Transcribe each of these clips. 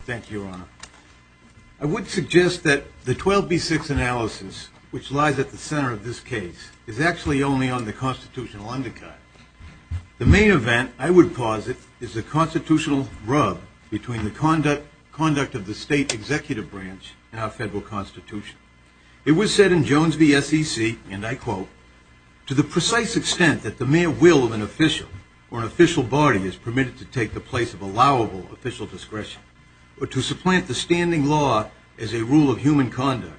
Thank you, Your Honor. I would suggest that the 12B6 analysis, which lies at the center of this case, is actually only on the constitutional undercut. The main event, I would posit, is the constitutional rub between the conduct of the state executive branch and our federal constitution. It was said in Jones v. SEC, and I quote, to the precise extent that the mere will of an official or an official body is permitted to take the place of allowable official discretion, or to supplant the standing law as a rule of human conduct,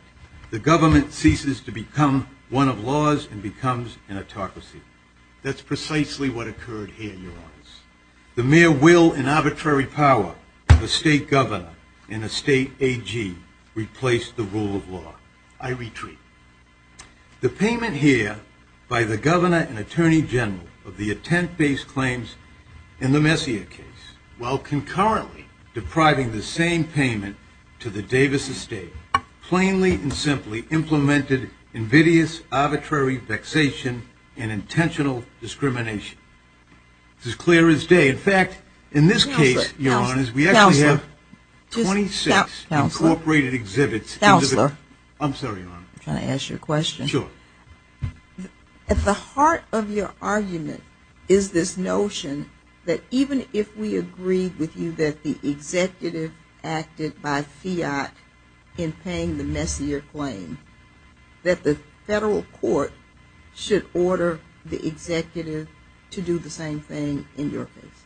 the government ceases to become one of laws and becomes an autocracy. That's precisely what occurred here, Your Honor. The mere will and arbitrary power of a state governor and a state AG replaced the rule of law. I retreat. The payment here by the governor and attorney general of the attempt-based claims in the Messier case, while concurrently depriving the same payment to the Davis estate, plainly and simply implemented invidious arbitrary vexation and intentional discrimination. This is clear as day. In fact, in this case, Your Honor, we actually have 26 incorporated exhibits. Counselor. I'm sorry, Your Honor. I'm trying to ask you a question. Sure. At the heart of your argument is this notion that even if we agree with you that the executive acted by fiat in paying the Messier claim, that the federal court should order the executive to do the same thing in your case?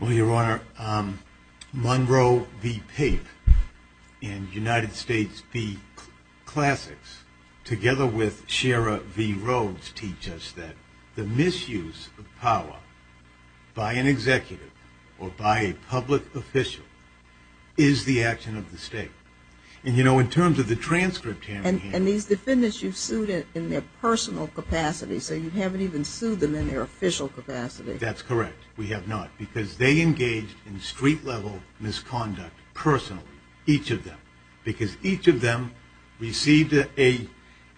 Well, Your Honor, Monroe v. Pape and United States v. Classics, together with Shara v. Rhodes, teach us that the misuse of power by an executive or by a public official is the action of the state. And, you know, in terms of the transcript. And these defendants you've sued in their personal capacity, so you haven't even sued them in their official capacity. That's correct. We have not, because they engaged in street-level misconduct personally, each of them, because each of them received a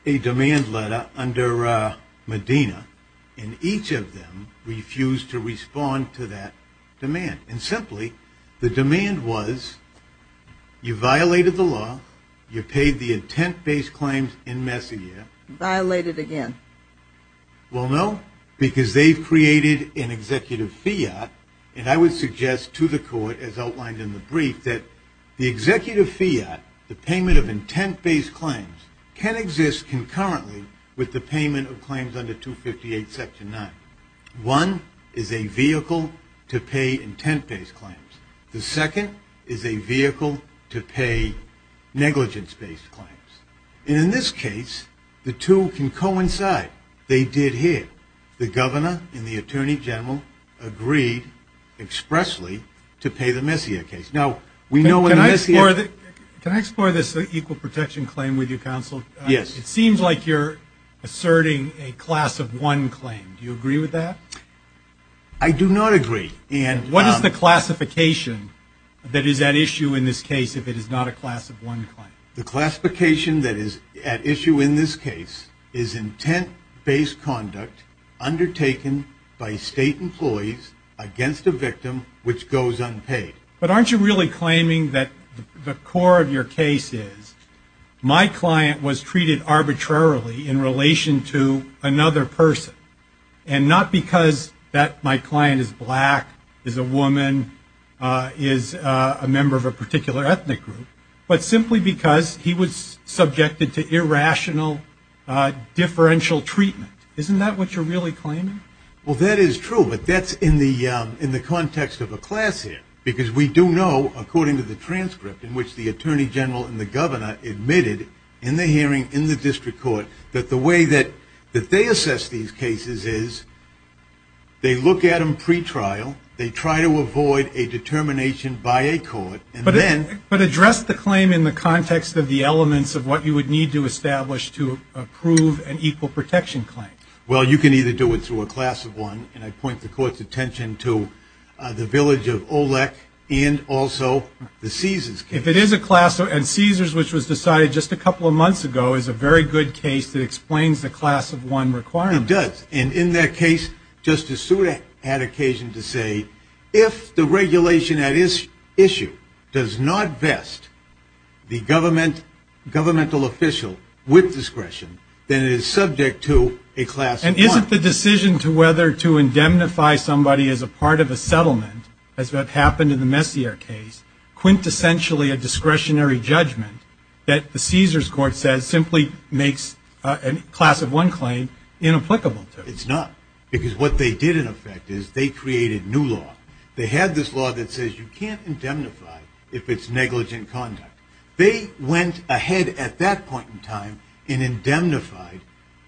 demand letter under Medina, and each of them refused to respond to that demand. And simply, the demand was, you violated the law, you paid the intent-based claims in Messier. Violated again. Well, no, because they've created an executive fiat, and I would suggest to the court, as outlined in the brief, that the executive fiat, the payment of intent-based claims, can exist concurrently with the payment of claims under 258 Section 9. One is a vehicle to pay intent-based claims. The second is a vehicle to pay negligence-based claims. And in this case, the two can coincide. They did here. The governor and the attorney general agreed expressly to pay the Messier case. Now, we know in Messier. Can I explore this equal protection claim with you, counsel? Yes. It seems like you're asserting a class-of-one claim. Do you agree with that? I do not agree. And what is the classification that is at issue in this case if it is not a class-of-one claim? The classification that is at issue in this case is intent-based conduct undertaken by state employees against a victim which goes unpaid. But aren't you really claiming that the core of your case is my client was treated arbitrarily in relation to another person, and not because my client is black, is a woman, is a member of a particular ethnic group, but simply because he was subjected to irrational differential treatment? Isn't that what you're really claiming? Well, that is true, but that's in the context of a class here. Because we do know, according to the transcript in which the attorney general and the governor admitted in the hearing in the district court that the way that they assess these cases is they look at them pretrial, they try to avoid a determination by a court, and then But address the claim in the context of the elements of what you would need to establish to approve an equal protection claim. Well, you can either do it through a class-of-one, and I point the court's attention to the village of Olek and also the Caesars case. If it is a class, and Caesars, which was decided just a couple of months ago, is a very good case that explains the class-of-one requirement. And in that case, Justice Sotomayor had occasion to say, if the regulation at issue does not vest the governmental official with discretion, then it is subject to a class-of-one. And as what happened in the Messier case, quintessentially a discretionary judgment that the Caesars court says simply makes a class-of-one claim inapplicable to it. It's not. Because what they did, in effect, is they created new law. They had this law that says you can't indemnify if it's negligent conduct. They went ahead at that point in time and indemnified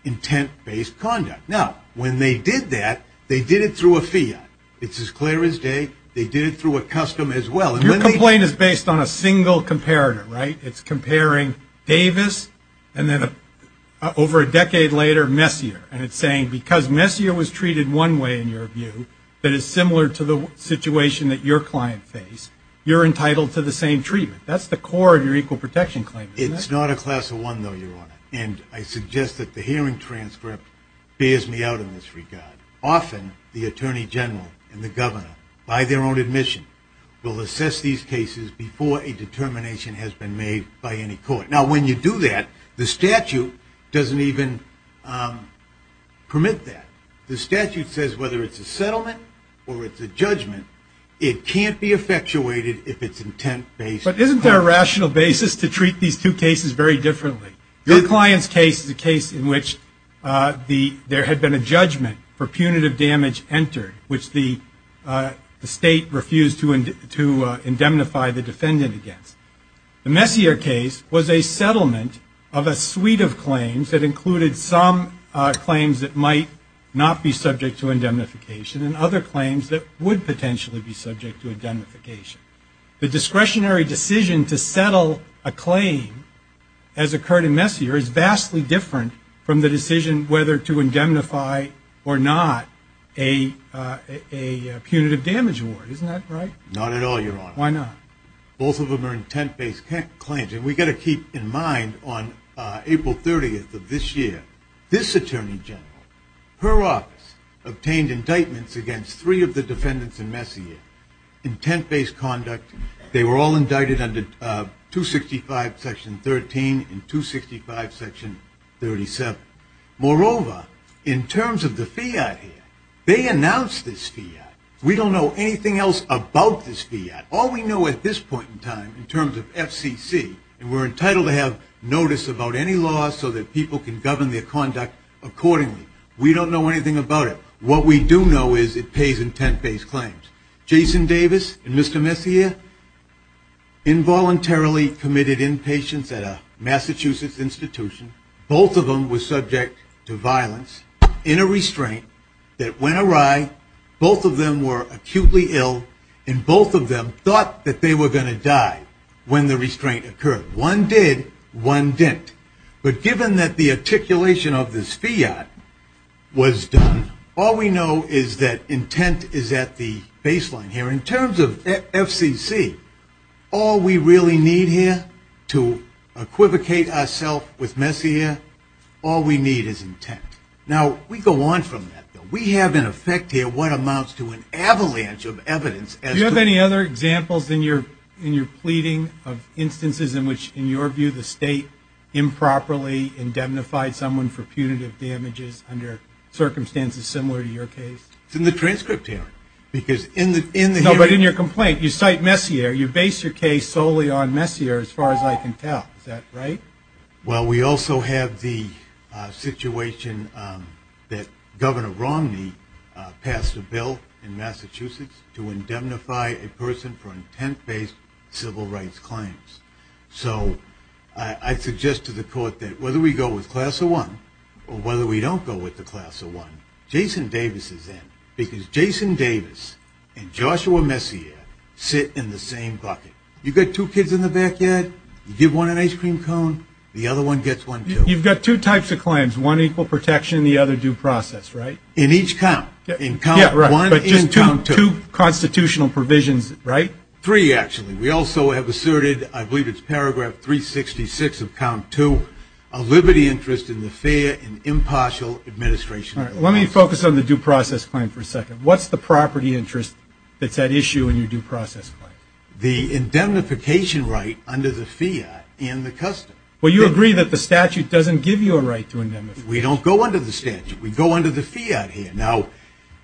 intent-based conduct. Now, when they did that, they did it through a fiat. It's as clear as day. They did it through a custom as well. Your complaint is based on a single comparator, right? It's comparing Davis, and then over a decade later, Messier. And it's saying, because Messier was treated one way, in your view, that is similar to the situation that your client faced, you're entitled to the same treatment. That's the core of your equal protection claim, isn't it? It's not a class-of-one, though, Your Honor. And I suggest that the hearing transcript bears me out in this regard. Often, the attorney general and the governor, by their own admission, will assess these cases before a determination has been made by any court. Now, when you do that, the statute doesn't even permit that. The statute says whether it's a settlement or it's a judgment, it can't be effectuated if it's intent-based. But isn't there a rational basis to treat these two cases very differently? Your client's case is a case in which there had been a judgment for punitive damage entered, which the state refused to indemnify the defendant against. The Messier case was a settlement of a suite of claims that included some claims that might not be subject to indemnification and other claims that would potentially be subject to indemnification. The discretionary decision to settle a claim as occurred in Messier is vastly different from the decision whether to indemnify or not a punitive damage award. Isn't that right? Not at all, Your Honor. Why not? Both of them are intent-based claims. And we've got to keep in mind, on April 30th of this year, this attorney general, her office, obtained indictments against three of the defendants in Messier, intent-based conduct. They were all indicted under 265 section 13 and 265 section 37. Moreover, in terms of the fiat here, they announced this fiat. We don't know anything else about this fiat. All we know at this point in time in terms of FCC, and we're entitled to have notice about any laws so that people can govern their conduct accordingly, we don't know anything about it. What we do know is it pays intent-based claims. Jason Davis and Mr. Messier involuntarily committed impatience at a Massachusetts institution. Both of them were subject to violence in a restraint that when arrived, both of them were acutely ill, and both of them thought that they were going to die when the restraint occurred. One did, one didn't. But given that the articulation of this fiat was done, all we know is that intent is at the baseline here. In terms of FCC, all we really need here to equivocate ourselves with Messier, all we need is intent. Now, we go on from that. We have in effect here what amounts to an avalanche of evidence. Do you have any other examples in your pleading of instances in which, in your view, the state improperly indemnified someone for punitive damages under circumstances similar to your case? It's in the transcript here. No, but in your complaint, you cite Messier, you base your case solely on Messier as far as I can tell. Is that right? Well, we also have the situation that Governor Romney passed a bill in Massachusetts to indemnify a person for intent-based civil rights claims. So I suggest to the court that whether we go with class of one or whether we don't go with the class of one, Jason Davis is in, because Jason Davis and Joshua Messier sit in the same bucket. You've got two kids in the backyard, you give one an ice cream cone, the other one gets one, too. You've got two types of claims, one equal protection and the other due process, right? In each count. Yeah, right, but just two constitutional provisions, right? Three, actually. We also have asserted, I believe it's paragraph 366 of count two, a liberty interest in the fair and impartial administration of the law. All right, let me focus on the due process claim for a second. What's the property interest that's at issue in your due process claim? The indemnification right under the FIAT and the custom. Well, you agree that the statute doesn't give you a right to indemnify. We don't go under the statute. We go under the FIAT here. Now,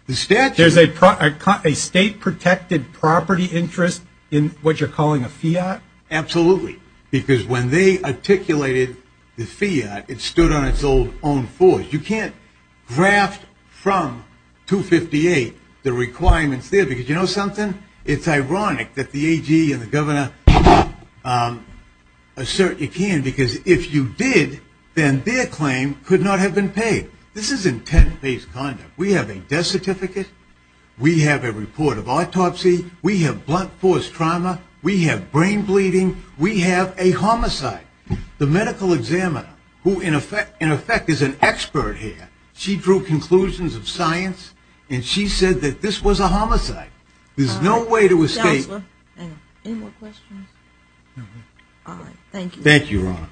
the statute... There's a state-protected property interest in what you're calling a FIAT? Absolutely, because when they articulated the FIAT, it stood on its own fours. You can't draft from 258 the requirements there, because you know something? It's ironic that the AG and the governor assert you can't, because if you did, then their claim could not have been paid. This is intent-based conduct. We have a death certificate. We have a report of autopsy. We have blunt force trauma. We have brain bleeding. We have a homicide. The medical examiner, who in effect is an expert here, she drew conclusions of science, and she said that this was a homicide. There's no way to escape... Counselor, any more questions? No. All right. Thank you. Thank you, Your Honor.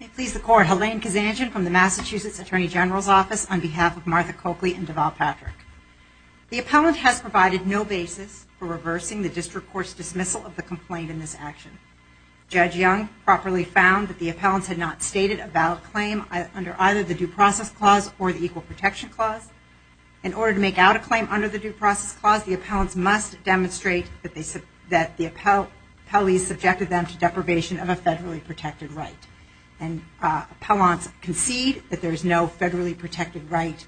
May it please the Court, Helene Kazanjian from the Massachusetts Attorney General's Office on behalf of Martha Coakley and Deval Patrick. The appellant has provided no basis for reversing the district court's dismissal of the complaint in this action. Judge Young properly found that the appellants had not stated a valid claim under either the Due Process Clause or the Equal Protection Clause. In order to make out a claim under the Due Process Clause, the appellants must demonstrate that the appellees subjected them to deprivation of a federally protected right. And appellants concede that there is no federally protected right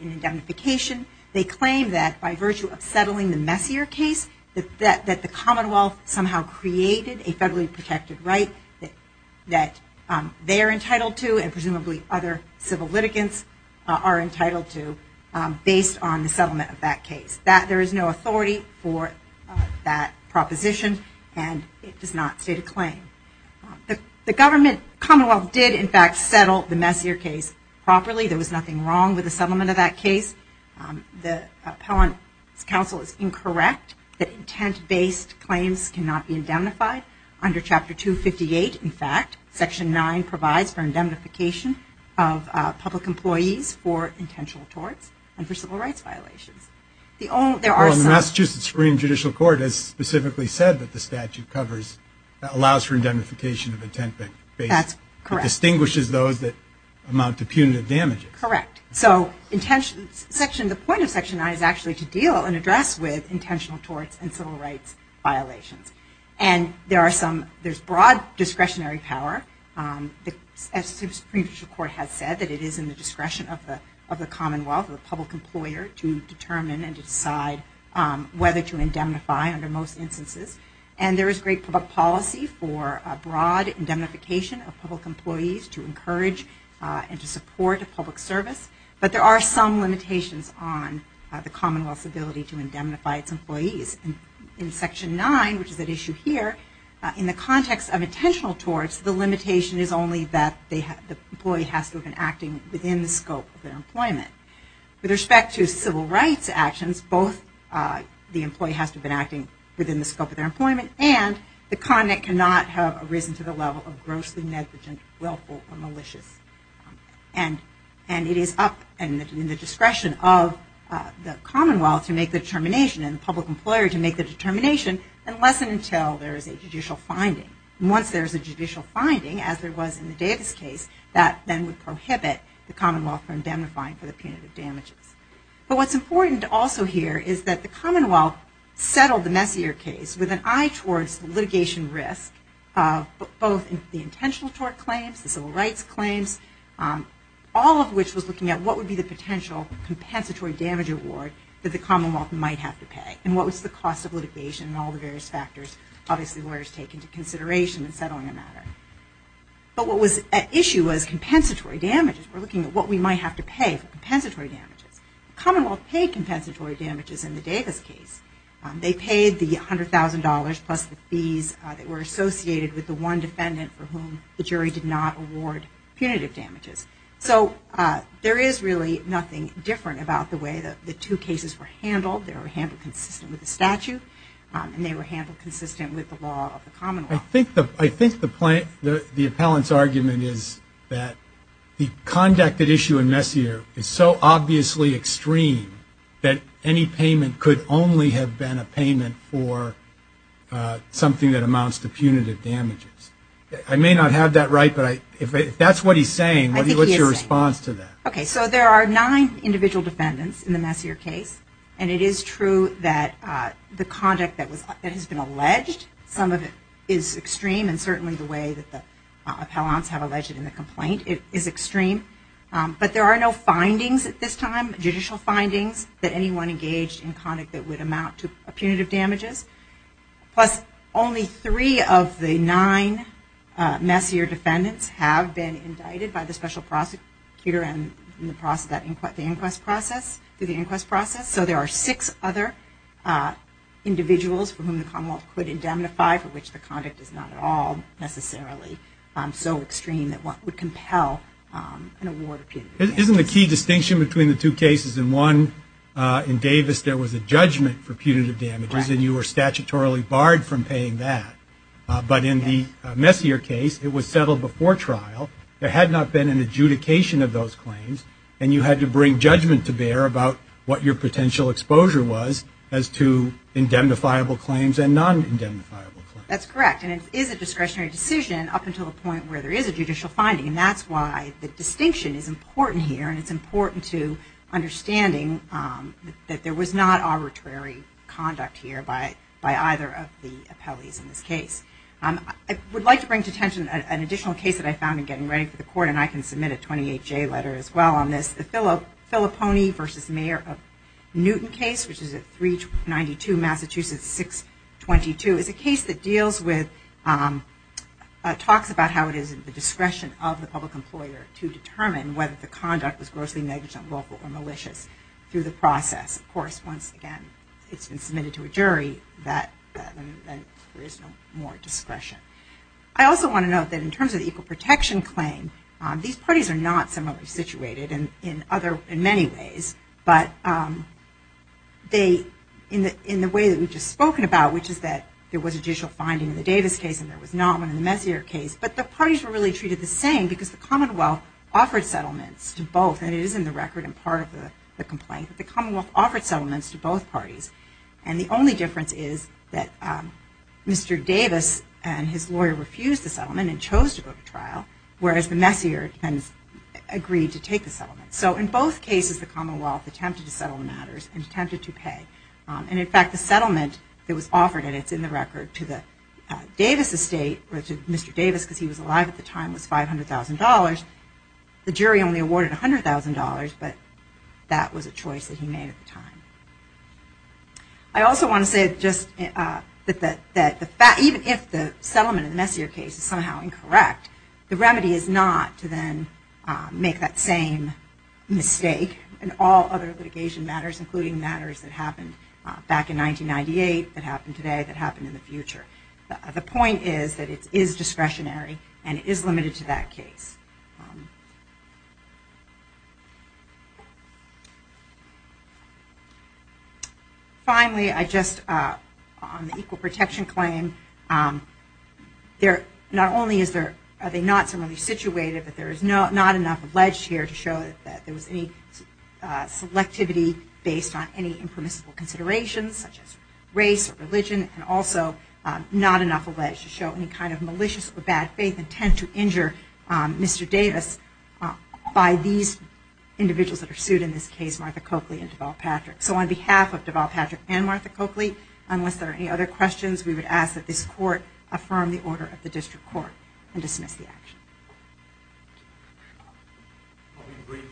in indemnification. They claim that by virtue of settling the Messier case, that the Commonwealth somehow created a federally protected right that they are entitled to, and presumably other civil litigants are entitled to, based on the settlement of that case. That there is no authority for that proposition, and it does not state a claim. The government, Commonwealth, did in fact settle the Messier case properly. There was nothing wrong with the settlement of that case. The appellant's counsel is incorrect that intent-based claims cannot be indemnified. Under Chapter 258, in fact, Section 9 provides for indemnification of public employees for intentional torts and for civil rights violations. Well, the Massachusetts Supreme Judicial Court has specifically said that the statute covers, allows for indemnification of intent-based, but distinguishes those that amount to punitive damages. Correct. So the point of Section 9 is actually to deal and address with intentional torts and civil rights violations. And there's broad discretionary power, as the Supreme Judicial Court has said, that it is in the discretion of the Commonwealth, of the public employer, to determine and decide whether to indemnify under most instances. And there is great public policy for a broad indemnification of public employees to encourage and to support a public service. But there are some limitations on the Commonwealth's ability to indemnify its employees. In Section 9, which is at issue here, in the context of intentional torts, the limitation is only that the employee has to have been acting within the scope of their employment. With respect to civil rights actions, both the employee has to have been acting within the scope of their employment, and the content cannot have arisen to the level of grossly negligent, willful, or malicious. And it is up in the discretion of the Commonwealth to make the determination, and the public employer to make the determination, unless and until there is a judicial finding. Once there is a judicial finding, as there was in the Davis case, that then would prohibit the Commonwealth from indemnifying for the punitive damages. But what's important also here is that the Commonwealth settled the Messier case with an eye towards litigation risk, both in the intentional tort claims, the civil rights claims, all of which was looking at what would be the potential compensatory damage award that the Commonwealth might have to pay, and what was the cost of litigation and all the various factors, obviously lawyers take into consideration in settling a matter. But what was at issue was compensatory damages. We're looking at what we might have to pay for compensatory damages. The Commonwealth paid compensatory damages in the Davis case. They paid the $100,000 plus the fees that were associated with the one defendant for whom the jury did not award punitive damages. So there is really nothing different about the way that the two cases were handled. They were handled consistent with the statute, and they were handled consistent with the law of the Commonwealth. I think the appellant's argument is that the conduct at issue in Messier is so obviously extreme that any payment could only have been a payment for something that amounts to punitive damages. I may not have that right, but if that's what he's saying, what's your response to that? Okay, so there are nine individual defendants in the Messier case, and it is true that the conduct that has been alleged, some of it is extreme, and certainly the way that the appellants have alleged in the complaint is extreme. But there are no findings at this time, judicial findings, that anyone engaged in conduct that would amount to punitive damages. Plus, only three of the nine Messier defendants have been indicted by the special prosecutor in the inquest process. So there are six other individuals for whom the Commonwealth could indemnify, for which the conduct is not at all necessarily so extreme that one would compel an award of punitive damages. Isn't the key distinction between the two cases in one, in Davis there was a judgment for punitive damages, and you were statutorily barred from paying that. But in the Messier case, it was settled before trial. There had not been an adjudication of those claims, and you had to bring judgment to bear about what your potential exposure was as to indemnifiable claims and non-indemnifiable claims. That's correct, and it is a discretionary decision up until the point where there is a judicial finding, and that's why the distinction is important here, and it's important to understanding that there was not arbitrary conduct here by either of the appellees in this case. I would like to bring to attention an additional case that I found in getting ready for the court, and I can submit a 28-J letter as well on this. The Filippone v. Mayor of Newton case, which is at 392 Massachusetts 622, is a case that deals with, talks about how it is at the discretion of the public employer to determine whether the conduct was grossly negligent, local, or malicious through the process. Of course, once again, it's been submitted to a jury, and there is no more discretion. I also want to note that in terms of the equal protection claim, these parties are not similarly situated in many ways, but in the way that we've just spoken about, which is that there was a judicial finding in the Davis case and there was not one in the Messier case, but the parties were really treated the same because the Commonwealth offered settlements to both, and it is in the record and part of the complaint that the Commonwealth offered settlements to both parties. And the only difference is that Mr. Davis and his lawyer refused the settlement and chose to go to trial, whereas the Messier defendants agreed to take the settlement. So in both cases, the Commonwealth attempted to settle the matters and attempted to pay. And in fact, the settlement that was offered, and it's in the record, to the Davis estate, or to Mr. Davis because he was alive at the time, was $500,000. The jury only awarded $100,000, but that was a choice that he made at the time. I also want to say just that even if the settlement in the Messier case is somehow incorrect, the remedy is not to then make that same mistake in all other litigation matters, including matters that happened back in 1998, that happened today, that happened in the future. The point is that it is discretionary and it is limited to that case. Finally, on the equal protection claim, not only are they not similarly situated, but there is not enough alleged here to show that there was any selectivity based on any impermissible considerations, such as race or religion, and also not enough alleged to show any kind of malicious or bad faith intent to injure Mr. Davis by these individuals that are sued in this case, Martha Coakley and Deval Patrick. So on behalf of Deval Patrick and Martha Coakley, unless there are any other questions, we would ask that this Court affirm the order of the District Court and dismiss the action. In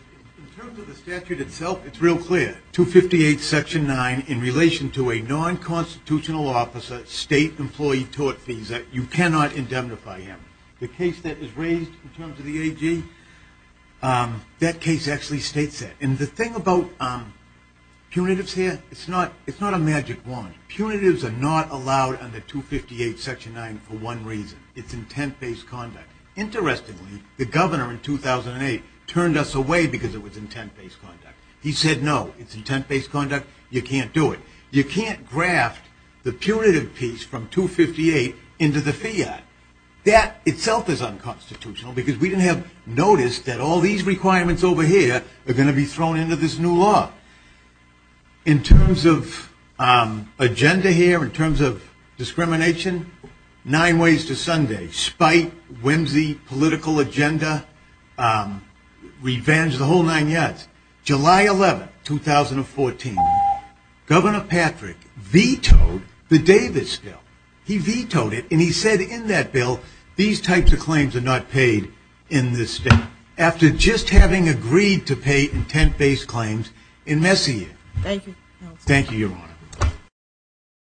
terms of the statute itself, it's real clear. 258 section 9, in relation to a non-constitutional officer, state employee tort visa, you cannot indemnify him. The case that was raised in terms of the AG, that case actually states that. And the thing about punitives here, it's not a magic wand. Punitives are not allowed under 258 section 9 for one reason. It's intent-based conduct. Interestingly, the governor in 2008 turned us away because it was intent-based conduct. He said, no, it's intent-based conduct, you can't do it. You can't graft the punitive piece from 258 into the fiat. That itself is unconstitutional because we didn't have notice that all these requirements over here are going to be thrown into this new law. In terms of agenda here, in terms of discrimination, nine ways to Sunday. Spite, whimsy, political agenda, revenge, the whole nine yards. July 11, 2014, Governor Patrick vetoed the Davis bill. He vetoed it, and he said in that bill, these types of claims are not paid in this state. After just having agreed to pay intent-based claims in Messiaen. Thank you. Thank you, Your Honor.